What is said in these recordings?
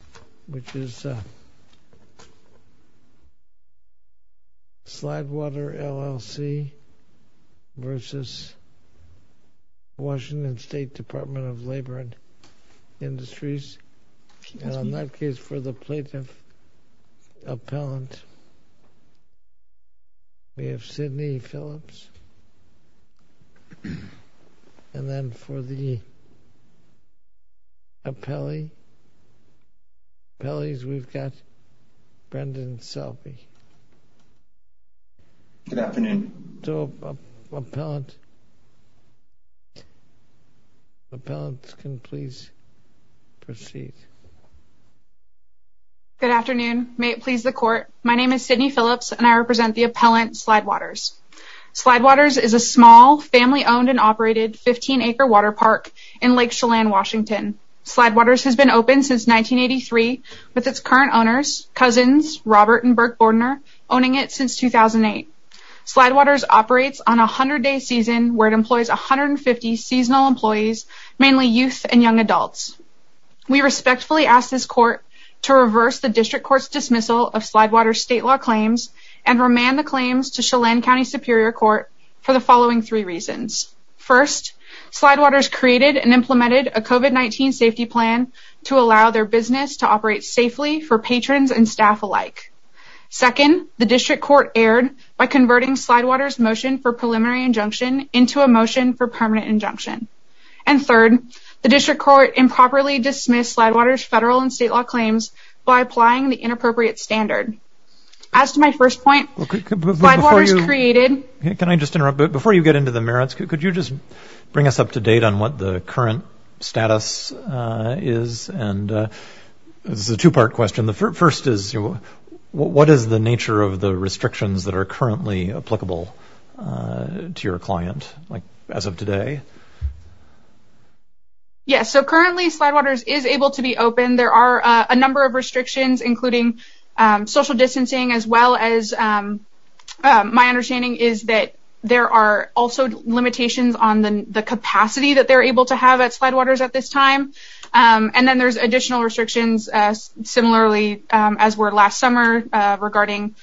of Labor and Industries, and in that case for the Plaintiff Appellant we have Sydney Phillips, and then for the Appellee we have Brendan Selby. Good afternoon, may it please the Court, my name is Sydney Phillips and I represent the Appellant Slidewaters. Slidewaters is a small, family owned and operated 15 acre water park in Lake Chelan, Washington. Slidewaters has been open since 1983 with its current owners, cousins Robert and Burke Bordner, owning it since 2008. Slidewaters operates on a 100 day season where it employs 150 seasonal employees, mainly youth and young adults. We respectfully ask this Court to reverse the District Court's dismissal of Slidewaters state law claims and remand the claims to Chelan County Superior Court for the following three reasons. First, Slidewaters created and implemented a COVID-19 safety plan to allow their business to operate safely for patrons and staff alike. Second, the District Court erred by converting Slidewaters motion for preliminary injunction into a motion for permanent injunction. And third, the District Court improperly dismissed Slidewaters federal and state law claims by applying the inappropriate standard. As to my first point, Slidewaters created... Can I just interrupt? Before you get into the merits, could you just bring us up to date on what the current status is? And this is a two part question. The first is, what is the nature of the restrictions that are currently applicable to your client as of today? Yes, so currently Slidewaters is able to be open. There are a number of restrictions, including social distancing, as well as... My understanding is that there are also limitations on the capacity that they're able to have at Slidewaters at this time. And then there's additional restrictions, similarly, as were last summer regarding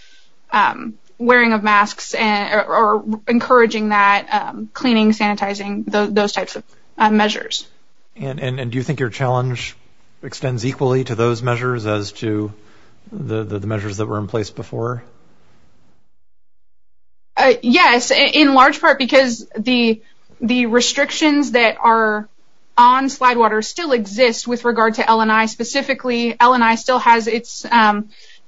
wearing of masks and encouraging that cleaning, sanitizing, those types of measures. And do you think your challenge extends equally to those measures as to the measures that were in place before? Yes, in large part because the restrictions that are on Slidewaters still exist with regard to L&I specifically. L&I still has its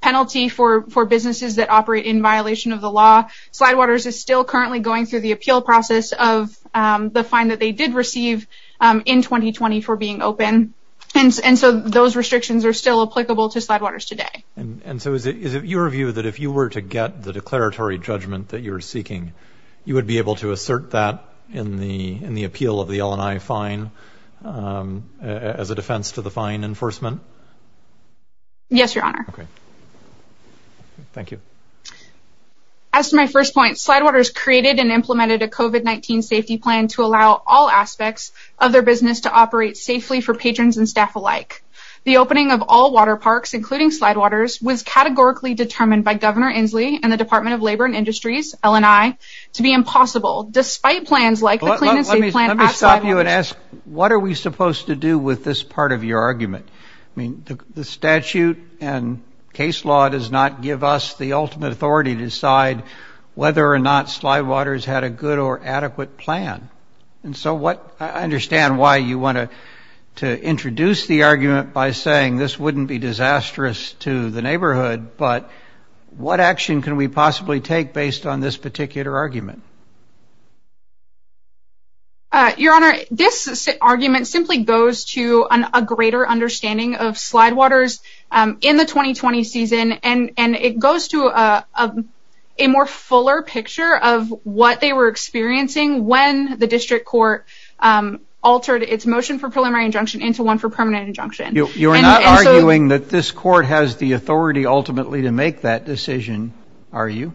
penalty for businesses that operate in violation of the law. Slidewaters is still currently going through the appeal process of the fine that they did receive in 2020 for being open. And so those restrictions are still applicable to Slidewaters today. And so is it your view that if you were to get the declaratory judgment that you're seeking, you would be able to assert that in the appeal of the L&I fine as a defense to the fine enforcement? Yes, Your Honor. Thank you. As to my first point, Slidewaters created and implemented a COVID-19 safety plan to allow all aspects of their business to operate safely for patrons and staff alike. The opening of all water parks, including Slidewaters, was categorically determined by Governor Inslee and the Department of Labor and Industries, L&I, to be impossible despite plans like the Clean and Safe Plan at Slidewaters. Let me stop you and ask, what are we supposed to do with this part of your argument? I mean, the statute and case law does not give us the ultimate authority to decide whether or not Slidewaters had a good or adequate plan. And so I understand why you want to introduce the argument by saying this wouldn't be disastrous to the neighborhood. But what action can we possibly take based on this particular argument? Your Honor, this argument simply goes to a greater understanding of Slidewaters in the 2020 season, and it goes to a more fuller picture of what they were experiencing when the district court altered its motion for preliminary injunction into one for permanent injunction. You're not arguing that this court has the authority ultimately to make that decision, are you?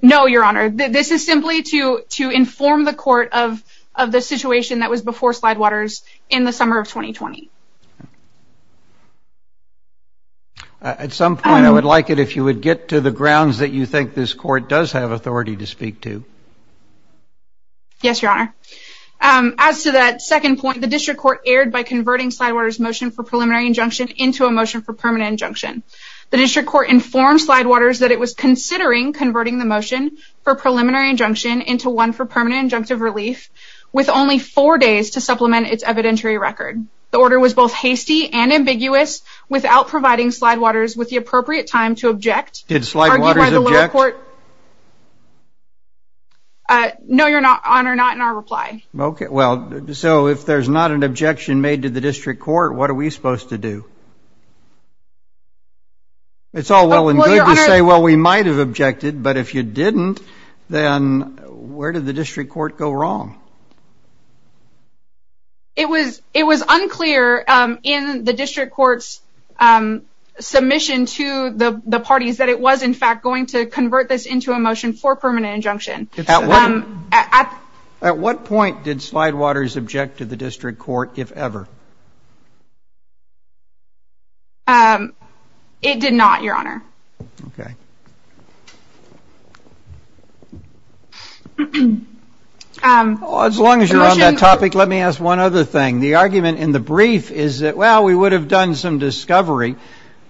No, Your Honor. This is simply to inform the court of the situation that was before Slidewaters in the summer of 2020. At some point, I would like it if you would get to the grounds that you think this court does have authority to speak to. Yes, Your Honor. As to that second point, the district court erred by converting Slidewaters' motion for preliminary injunction into a motion for permanent injunction. The district court informed Slidewaters that it was considering converting the motion for preliminary injunction into one for permanent injunctive relief with only four days to supplement its evidentiary record. The order was both hasty and ambiguous without providing Slidewaters with the appropriate time to object. Did Slidewaters object? No, Your Honor, not in our reply. Well, so if there's not an objection made to the district court, what are we supposed to do? It's all well and good to say, well, we might have objected, but if you didn't, then where did the district court go wrong? It was unclear in the district court's submission to the parties that it was, in fact, going to convert this into a motion for permanent injunction. At what point did Slidewaters object to the district court, if ever? It did not, Your Honor. Okay. As long as you're on that topic, let me ask one other thing. The argument in the brief is that, well, we would have done some discovery,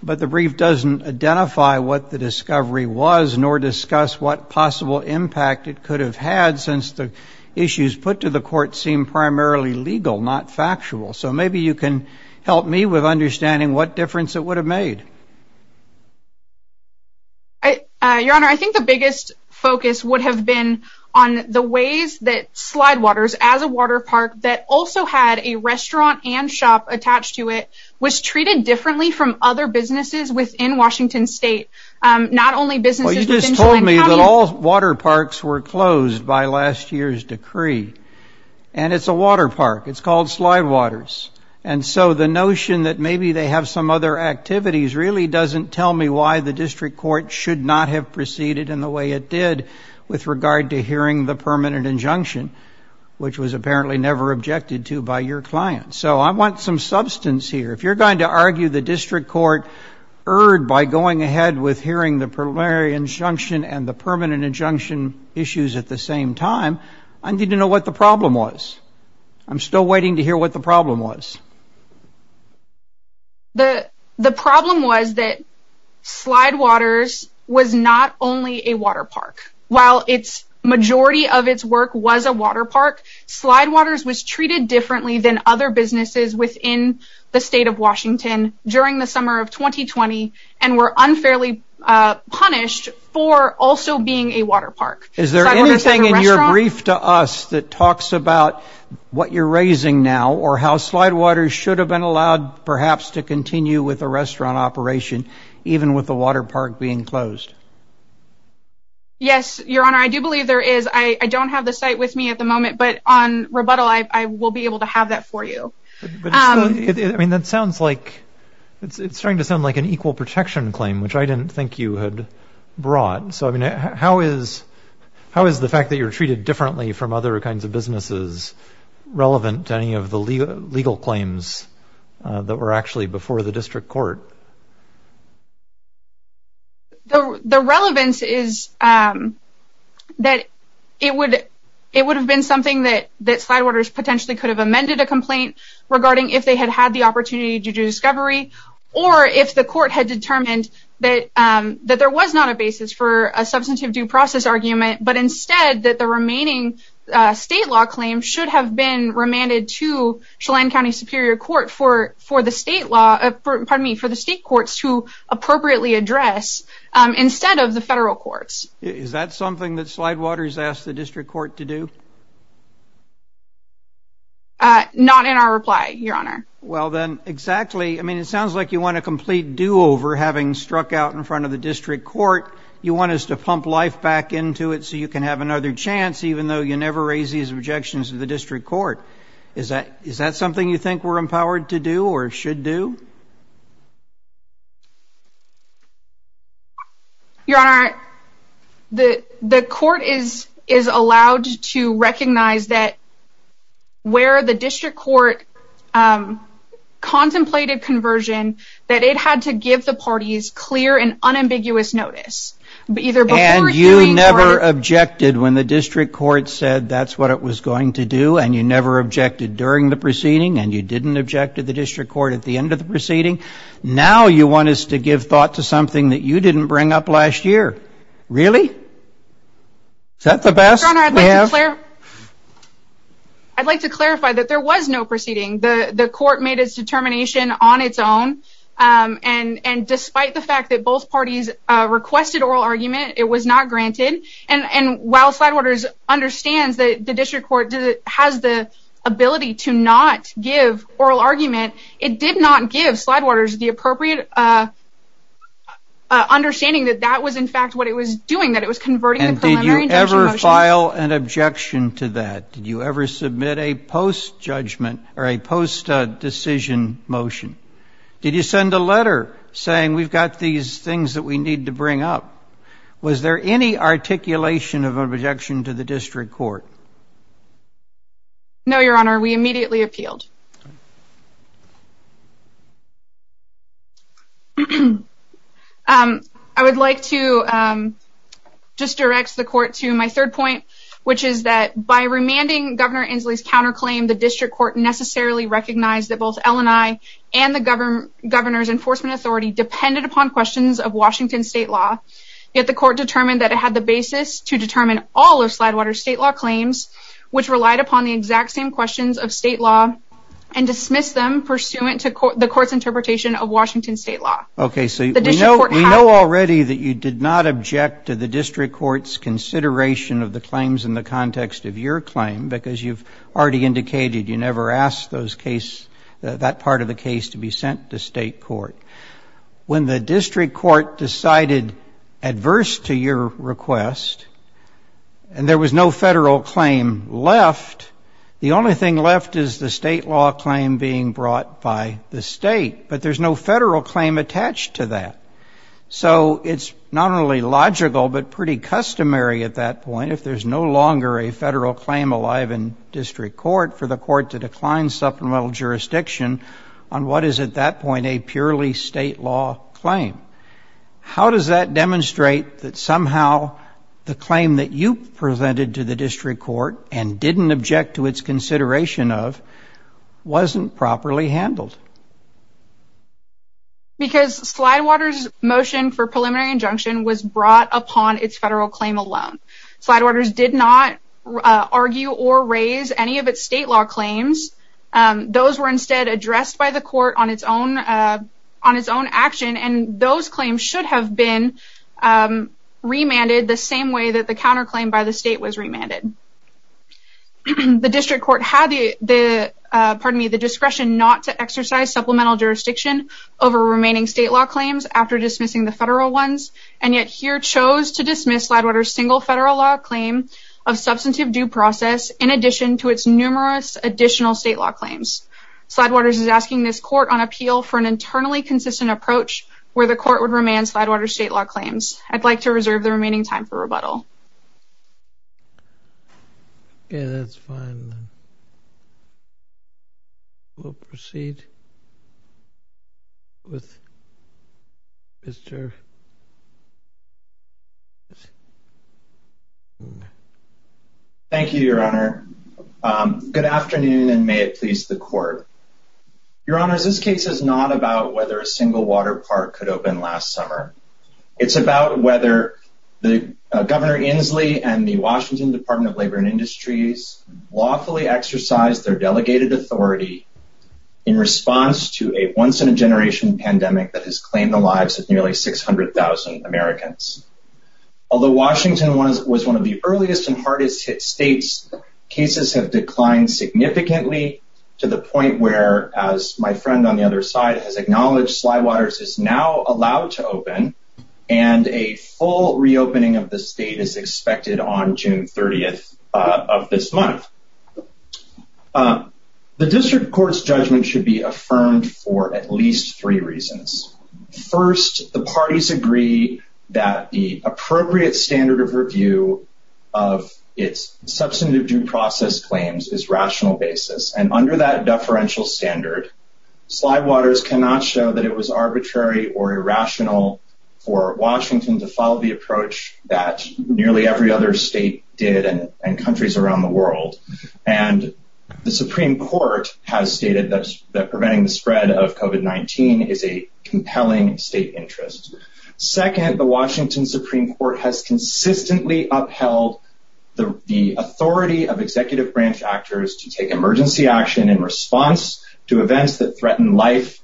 but the brief doesn't identify what the discovery was nor discuss what possible impact it could have had since the issues put to the court seem primarily legal, not factual. So maybe you can help me with understanding what difference it would have made. Your Honor, I think the biggest focus would have been on the ways that Slidewaters, as a water park that also had a restaurant and shop attached to it, was treated differently from other businesses within Washington State. Not only businesses within... Well, you just told me that all water parks were closed by last year's decree. And it's a water park. It's called Slidewaters. And so the notion that maybe they have some other activities really doesn't tell me why the district court should not have proceeded in the way it did with regard to hearing the permanent injunction, which was apparently never objected to by your client. So I want some substance here. If you're going to argue the district court erred by going ahead with hearing the preliminary injunction and the permanent injunction issues at the same time, I need to know what the problem was. I'm still waiting to hear what the problem was. The problem was that Slidewaters was not only a water park. While its majority of its work was a water park, Slidewaters was treated differently than other businesses within the state of Washington during the summer of 2020 and were unfairly punished for also being a water park. Is there anything in your brief to us that talks about what you're raising now or how Slidewaters should have been allowed perhaps to continue with a restaurant operation, even with the water park being closed? Yes, Your Honor. I do believe there is. I don't have the site with me at the moment, but on rebuttal, I will be able to have that for you. I mean, that sounds like it's starting to sound like an equal protection claim, which I didn't think you had brought. So, I mean, how is the fact that you're treated differently from other kinds of businesses relevant to any of the legal claims that were actually before the district court? The relevance is that it would have been something that Slidewaters potentially could have amended a complaint regarding if they had had the opportunity to do discovery or if the court had determined that there was not a basis for a substantive due process argument, but instead that the remaining state law claim should have been remanded to Chelan County Superior Court for the state courts to appropriately address instead of the federal courts. Is that something that Slidewaters asked the district court to do? Not in our reply, Your Honor. Well, then, exactly. I mean, it sounds like you want a complete do-over having struck out in front of the district court. You want us to pump life back into it so you can have another chance, even though you never raise these objections to the district court. Is that something you think we're empowered to do or should do? Your Honor, the court is allowed to recognize that where the district court contemplated conversion, that it had to give the parties clear and unambiguous notice. And you never objected when the district court said that's what it was going to do, and you never objected during the proceeding, and you didn't object to the district court at the end of the proceeding. Now you want us to give thought to something that you didn't bring up last year. Really? Is that the best we have? I'd like to clarify that there was no proceeding. The court made its determination on its own, and despite the fact that both parties requested oral argument, it was not granted. And while Slidewaters understands that the district court has the ability to not give oral argument, it did not give Slidewaters the appropriate understanding that that was in fact what it was doing, that it was converting the preliminary injunction motion. Did you file an objection to that? Did you ever submit a post-judgment or a post-decision motion? Did you send a letter saying we've got these things that we need to bring up? Was there any articulation of an objection to the district court? No, Your Honor. We immediately appealed. I would like to just direct the court to my third point, which is that by remanding Governor Inslee's counterclaim, the district court necessarily recognized that both L&I and the governor's enforcement authority depended upon questions of Washington state law. Yet the court determined that it had the basis to determine all of Slidewaters' state law claims, which relied upon the exact same questions of state law, and dismissed them pursuant to the court's interpretation of Washington state law. Okay, so you know already that you did not object to the district court's consideration of the claims in the context of your claim, because you've already indicated you never asked that part of the case to be sent to state court. When the district court decided adverse to your request and there was no federal claim left, the only thing left is the state law claim being brought by the state. But there's no federal claim attached to that. So it's not only logical but pretty customary at that point, if there's no longer a federal claim alive in district court, for the court to decline supplemental jurisdiction on what is at that point a purely state law claim. How does that demonstrate that somehow the claim that you presented to the district court and didn't object to its consideration of wasn't properly handled? Because Slidewaters' motion for preliminary injunction was brought upon its federal claim alone. Slidewaters did not argue or raise any of its state law claims. Those were instead addressed by the court on its own action, and those claims should have been remanded the same way that the counterclaim by the state was remanded. The district court had the discretion not to exercise supplemental jurisdiction over remaining state law claims after dismissing the federal ones, and yet here chose to dismiss Slidewaters' single federal law claim of substantive due process in addition to its numerous additional state law claims. Slidewaters is asking this court on appeal for an internally consistent approach where the court would remand Slidewaters' state law claims. I'd like to reserve the remaining time for rebuttal. Okay, that's fine. We'll proceed with Mr. Thank you, Your Honor. Good afternoon, and may it please the court. Your Honors, this case is not about whether a single water park could open last summer. It's about whether Governor Inslee and the Washington Department of Labor and Industries lawfully exercised their delegated authority in response to a once-in-a-generation pandemic that has claimed the lives of nearly 600,000 Americans. Although Washington was one of the earliest and hardest-hit states, cases have declined significantly to the point where, as my friend on the other side has acknowledged, Slidewaters is now allowed to open, and a full reopening of the state is expected on June 30th of this month. The district court's judgment should be affirmed for at least three reasons. First, the parties agree that the appropriate standard of review of its substantive due process claims is rational basis, and under that deferential standard, Slidewaters cannot show that it was arbitrary or irrational for Washington to follow the approach that nearly every other state did and countries around the world. And the Supreme Court has stated that preventing the spread of COVID-19 is a compelling state interest. Second, the Washington Supreme Court has consistently upheld the authority of executive branch actors to take emergency action in response to events that threaten life,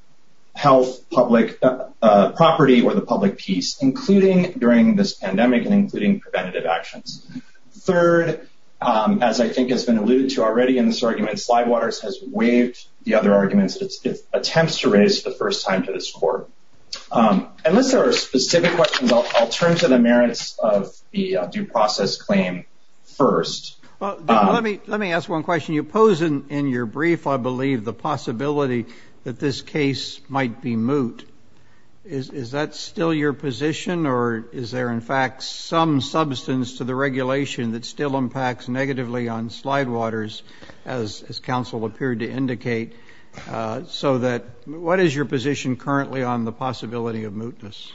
health, public property, or the public peace, including during this pandemic and including preventative actions. Third, as I think has been alluded to already in this argument, Slidewaters has waived the other arguments that it attempts to raise the first time to this court. Unless there are specific questions, I'll turn to the merits of the due process claim first. Well, let me ask one question. You pose in your brief, I believe, the possibility that this case might be moot. Is that still your position, or is there, in fact, some substance to the regulation that still impacts negatively on Slidewaters, as counsel appeared to indicate? So what is your position currently on the possibility of mootness?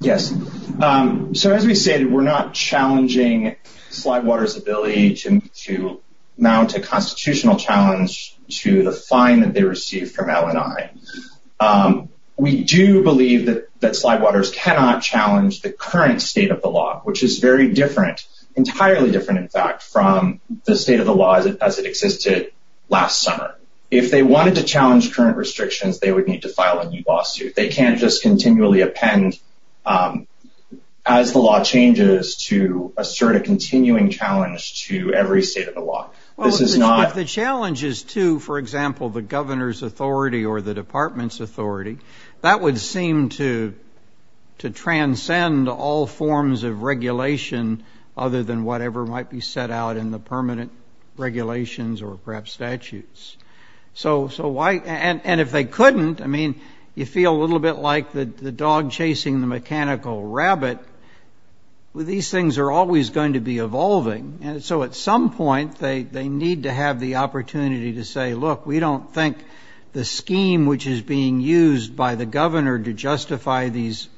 Yes. So as we say, we're not challenging Slidewaters' ability to mount a constitutional challenge to the fine that they received from LNI. We do believe that Slidewaters cannot challenge the current state of the law, which is very different, entirely different, in fact, from the state of the law as it existed last summer. If they wanted to challenge current restrictions, they would need to file a new lawsuit. They can't just continually append, as the law changes, to assert a continuing challenge to every state of the law. Well, if the challenge is to, for example, the governor's authority or the department's authority, that would seem to transcend all forms of regulation other than whatever might be set out in the permanent regulations or perhaps statutes. And if they couldn't, I mean, you feel a little bit like the dog chasing the mechanical rabbit. These things are always going to be evolving, and so at some point they need to have the opportunity to say, look, we don't think the scheme which is being used by the governor to justify these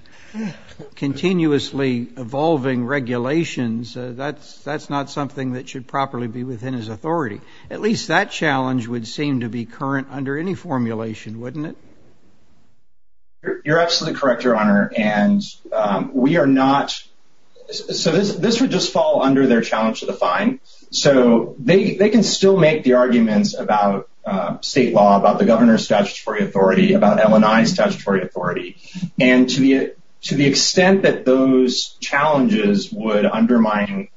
continuously evolving regulations, that's not something that should properly be within his authority. At least that challenge would seem to be current under any formulation, wouldn't it? You're absolutely correct, Your Honor, and we are not – so this would just fall under their challenge to the fine. So they can still make the arguments about state law, about the governor's statutory authority, about LNI's statutory authority, and to the extent that those challenges would undermine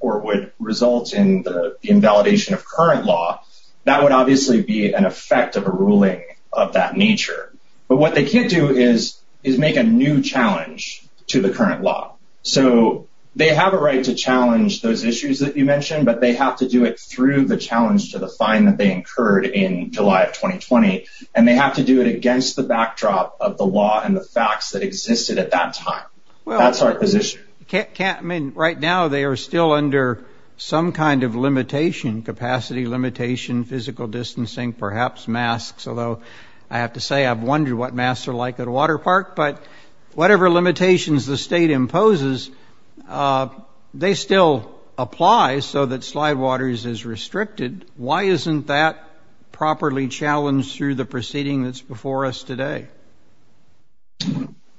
or would result in the invalidation of current law, that would obviously be an effect of a ruling of that nature. But what they can't do is make a new challenge to the current law. So they have a right to challenge those issues that you mentioned, but they have to do it through the challenge to the fine that they incurred in July of 2020, and they have to do it against the backdrop of the law and the facts that existed at that time. That's our position. Right now they are still under some kind of limitation, capacity limitation, physical distancing, perhaps masks, although I have to say I've wondered what masks are like at a water park. But whatever limitations the state imposes, they still apply so that slide waters is restricted. Why isn't that properly challenged through the proceeding that's before us today?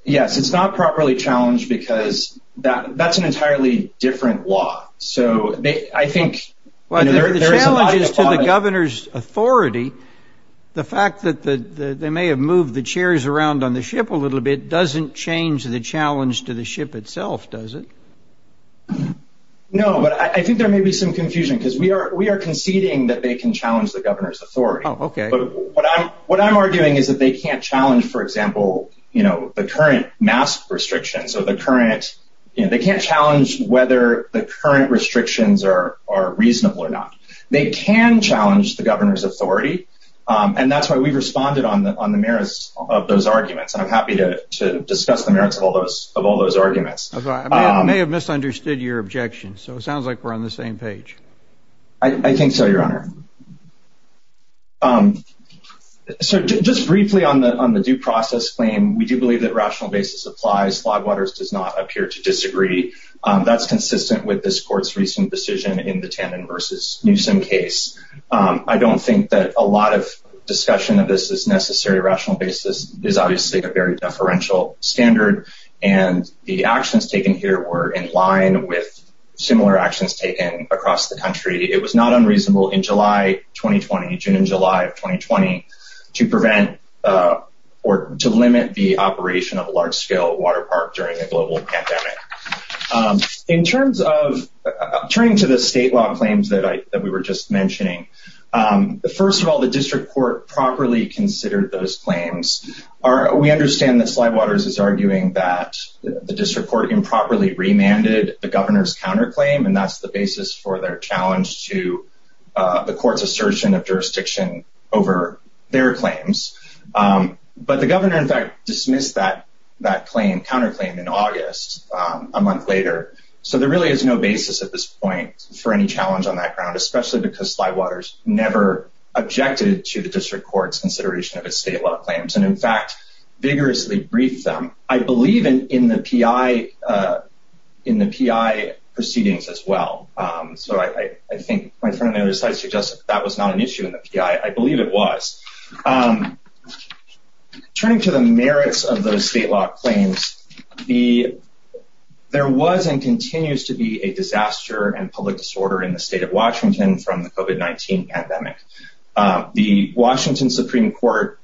Yes, it's not properly challenged because that's an entirely different law. So I think... Well, the challenge is to the governor's authority. The fact that they may have moved the chairs around on the ship a little bit doesn't change the challenge to the ship itself, does it? No, but I think there may be some confusion because we are conceding that they can challenge the governor's authority. Oh, okay. But what I'm arguing is that they can't challenge, for example, the current mask restrictions. They can't challenge whether the current restrictions are reasonable or not. They can challenge the governor's authority, and that's why we've responded on the merits of those arguments, and I'm happy to discuss the merits of all those arguments. I may have misunderstood your objection, so it sounds like we're on the same page. I think so, Your Honor. So just briefly on the due process claim, we do believe that rational basis applies. Slide waters does not appear to disagree. That's consistent with this court's recent decision in the Tannen v. Newsom case. I don't think that a lot of discussion of this is necessary. Rational basis is obviously a very deferential standard, and the actions taken here were in line with similar actions taken across the country. It was not unreasonable in July 2020, June and July of 2020, to prevent or to limit the operation of a large-scale water park during a global pandemic. In terms of turning to the state law claims that we were just mentioning, first of all, the district court properly considered those claims. We understand that Slide Waters is arguing that the district court improperly remanded the governor's counterclaim, and that's the basis for their challenge to the court's assertion of jurisdiction over their claims. But the governor, in fact, dismissed that counterclaim in August, a month later. So there really is no basis at this point for any challenge on that ground, especially because Slide Waters never objected to the district court's consideration of its state law claims, and, in fact, vigorously briefed them, I believe, in the PI proceedings as well. So I think my friend on the other side suggested that was not an issue in the PI. I believe it was. Turning to the merits of those state law claims, there was and continues to be a disaster and public disorder in the state of Washington from the COVID-19 pandemic. The Washington Supreme Court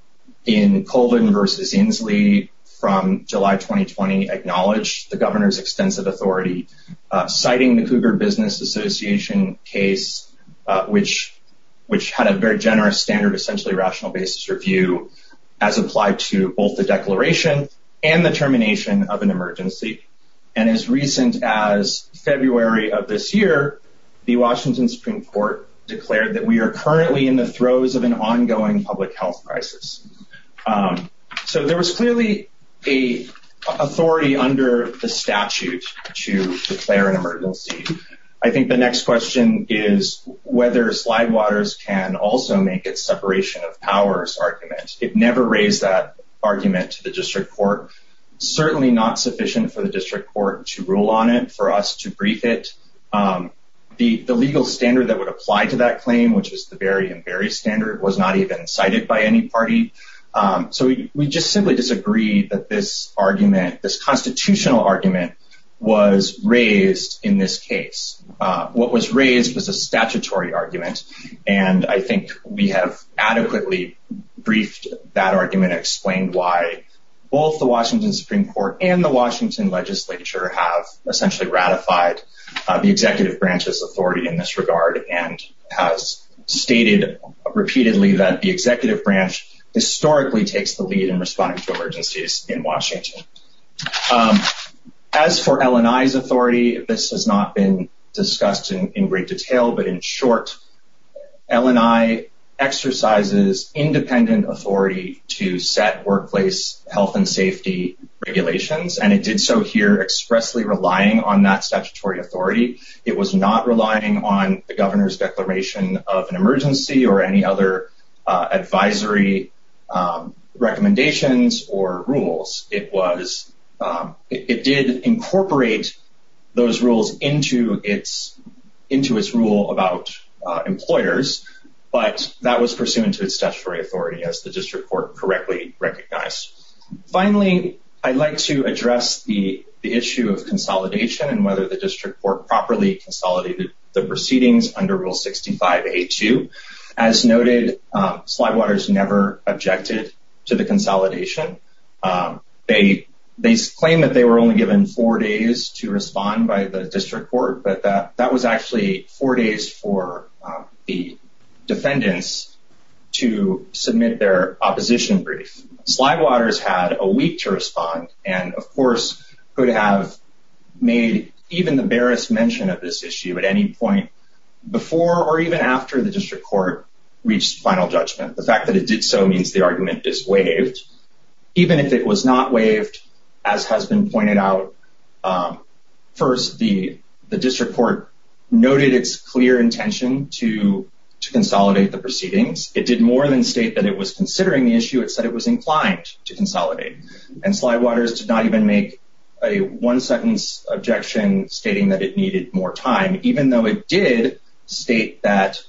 in Colvin v. Inslee from July 2020 acknowledged the governor's extensive authority, citing the Cougar Business Association case, which had a very generous standard, essentially rational basis review as applied to both the declaration and the termination of an emergency. And as recent as February of this year, the Washington Supreme Court declared that we are currently in the throes of an ongoing public health crisis. So there was clearly a authority under the statute to declare an emergency. I think the next question is whether Slide Waters can also make its separation of powers argument. It never raised that argument to the district court. Certainly not sufficient for the district court to rule on it, for us to brief it. The legal standard that would apply to that claim, which was the Berry v. Berry standard, was not even cited by any party. So we just simply disagree that this argument, this constitutional argument, was raised in this case. What was raised was a statutory argument. And I think we have adequately briefed that argument, explained why both the Washington Supreme Court and the Washington legislature have essentially ratified the executive branch's authority in this regard, and has stated repeatedly that the executive branch historically takes the lead in responding to emergencies in Washington. As for L&I's authority, this has not been discussed in great detail, but in short, L&I exercises independent authority to set workplace health and safety regulations, and it did so here expressly relying on that statutory authority. It was not relying on the governor's declaration of an emergency or any other advisory recommendations or rules. It did incorporate those rules into its rule about employers, but that was pursuant to its statutory authority, as the district court correctly recognized. Finally, I'd like to address the issue of consolidation and whether the district court properly consolidated the proceedings under Rule 65A2. As noted, Slidewaters never objected to the consolidation. They claim that they were only given four days to respond by the district court, but that was actually four days for the defendants to submit their opposition brief. Slidewaters had a week to respond and, of course, could have made even the barest mention of this issue at any point before or even after the district court reached final judgment. The fact that it did so means the argument is waived. Even if it was not waived, as has been pointed out, first, the district court noted its clear intention to consolidate the proceedings. It did more than state that it was considering the issue. It said it was inclined to consolidate. And Slidewaters did not even make a one-sentence objection stating that it needed more time, even though it did state that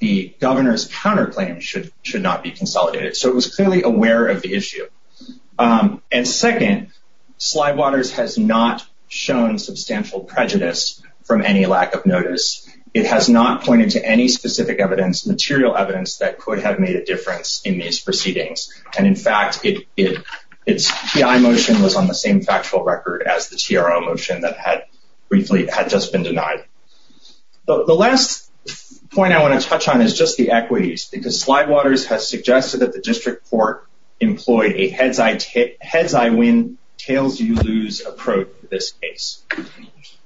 the governor's counterclaim should not be consolidated. So it was clearly aware of the issue. And second, Slidewaters has not shown substantial prejudice from any lack of notice. It has not pointed to any specific evidence, material evidence, that could have made a difference in these proceedings. And, in fact, its T.I. motion was on the same factual record as the T.R.O. motion that had briefly had just been denied. The last point I want to touch on is just the equities, because Slidewaters has suggested that the district court employ a heads-I-win, tails-you-lose approach to this case.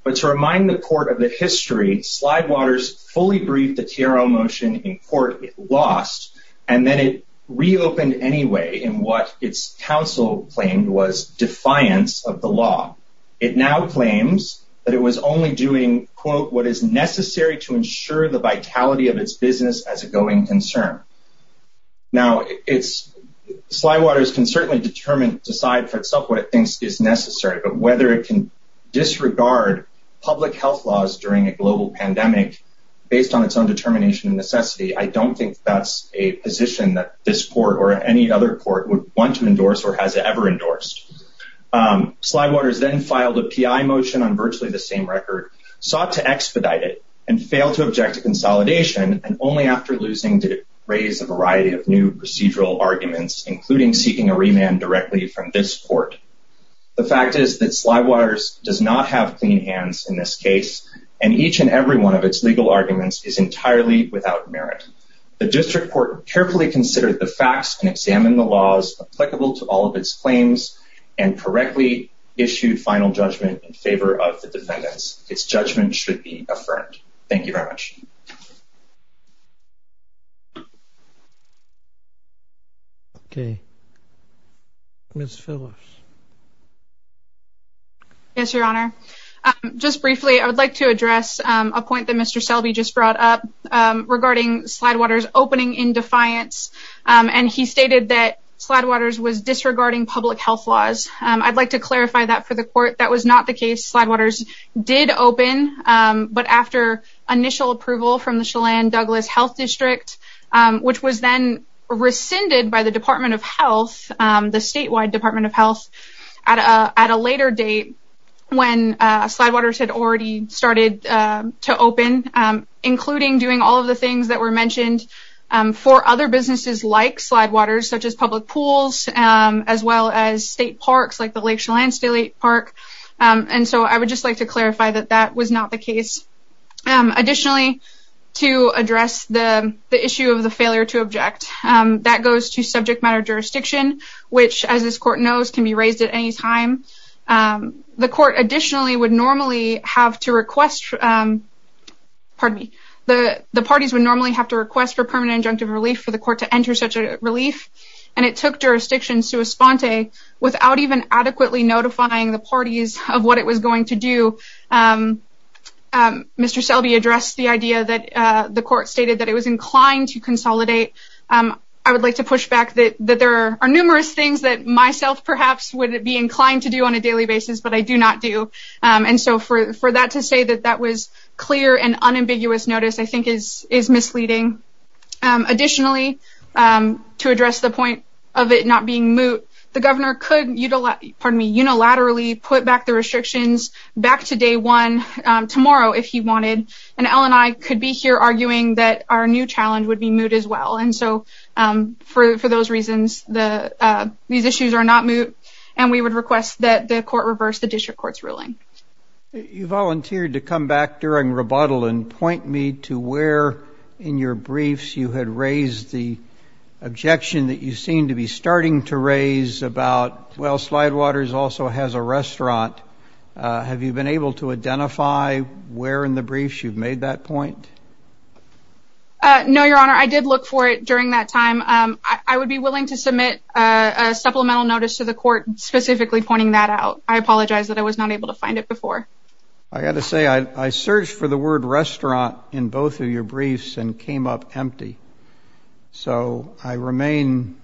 But to remind the court of the history, Slidewaters fully briefed the T.R.O. motion in court it lost, and then it reopened anyway in what its counsel claimed was defiance of the law. It now claims that it was only doing, quote, what is necessary to ensure the vitality of its business as a going concern. Now, Slidewaters can certainly decide for itself what it thinks is necessary, but whether it can disregard public health laws during a global pandemic based on its own determination and necessity, I don't think that's a position that this court or any other court would want to endorse or has ever endorsed. Slidewaters then filed a T.I. motion on virtually the same record, sought to expedite it, and failed to object to consolidation. And only after losing did it raise a variety of new procedural arguments, including seeking a remand directly from this court. The fact is that Slidewaters does not have clean hands in this case, and each and every one of its legal arguments is entirely without merit. The district court carefully considered the facts and examined the laws applicable to all of its claims and correctly issued final judgment in favor of the defendants. Its judgment should be affirmed. Thank you very much. Okay. Ms. Phillips. Yes, Your Honor. Just briefly, I would like to address a point that Mr. Selby just brought up regarding Slidewaters opening in defiance, and he stated that Slidewaters was disregarding public health laws. I'd like to clarify that for the court. That was not the case. Slidewaters did open, but after initial approval from the Chelan-Douglas Health District, which was then rescinded by the Department of Health, the statewide Department of Health, at a later date when Slidewaters had already started to open, including doing all of the things that were mentioned for other businesses like Slidewaters, such as public pools, as well as state parks like the Lake Chelan State Park. And so I would just like to clarify that that was not the case. Additionally, to address the issue of the failure to object, that goes to subject matter jurisdiction, which, as this court knows, can be raised at any time. The court additionally would normally have to request, pardon me, the parties would normally have to request for permanent injunctive relief for the court to enter such a relief, and it took jurisdiction sui sponte without even adequately notifying the parties of what it was going to do. Mr. Selby addressed the idea that the court stated that it was inclined to consolidate. I would like to push back that there are numerous things that myself perhaps would be inclined to do on a daily basis, but I do not do. And so for that to say that that was clear and unambiguous notice I think is misleading. Additionally, to address the point of it not being moot, the governor could unilaterally put back the restrictions back to day one tomorrow if he wanted, and Ellen and I could be here arguing that our new challenge would be moot as well. And so for those reasons, these issues are not moot, and we would request that the court reverse the district court's ruling. You volunteered to come back during rebuttal and point me to where in your briefs you had raised the objection that you seem to be starting to raise about, well, Slidewaters also has a restaurant. Have you been able to identify where in the briefs you've made that point? No, Your Honor. I did look for it during that time. I would be willing to submit a supplemental notice to the court specifically pointing that out. I apologize that I was not able to find it before. I've got to say I searched for the word restaurant in both of your briefs and came up empty. So I remain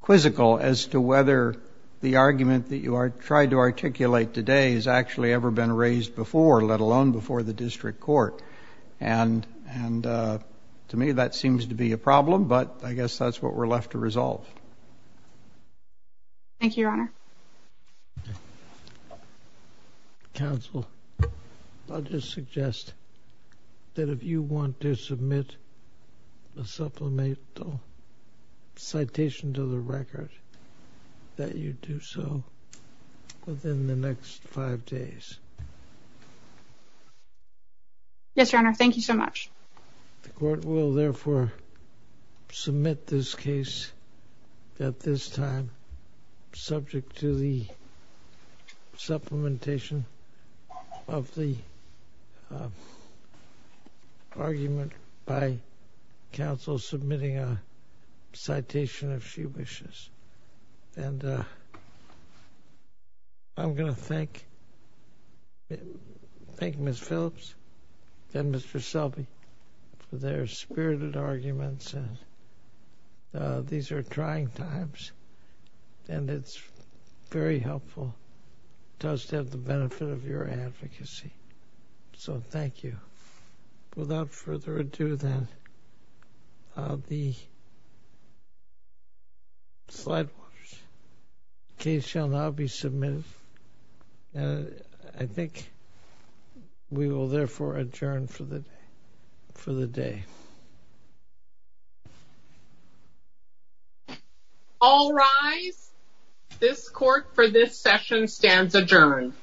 quizzical as to whether the argument that you tried to articulate today has actually ever been raised before, let alone before the district court. And to me, that seems to be a problem, but I guess that's what we're left to resolve. Counsel, I'll just suggest that if you want to submit a supplemental citation to the record, that you do so within the next five days. Yes, Your Honor. Thank you so much. The court will, therefore, submit this case at this time subject to the supplementation of the argument by counsel submitting a citation, if she wishes. And I'm going to thank Ms. Phillips and Mr. Selby for their spirited arguments. These are trying times, and it's very helpful. It does have the benefit of your advocacy, so thank you. Without further ado, then, the case shall now be submitted. I think we will, therefore, adjourn for the day. All rise. This court for this session stands adjourned.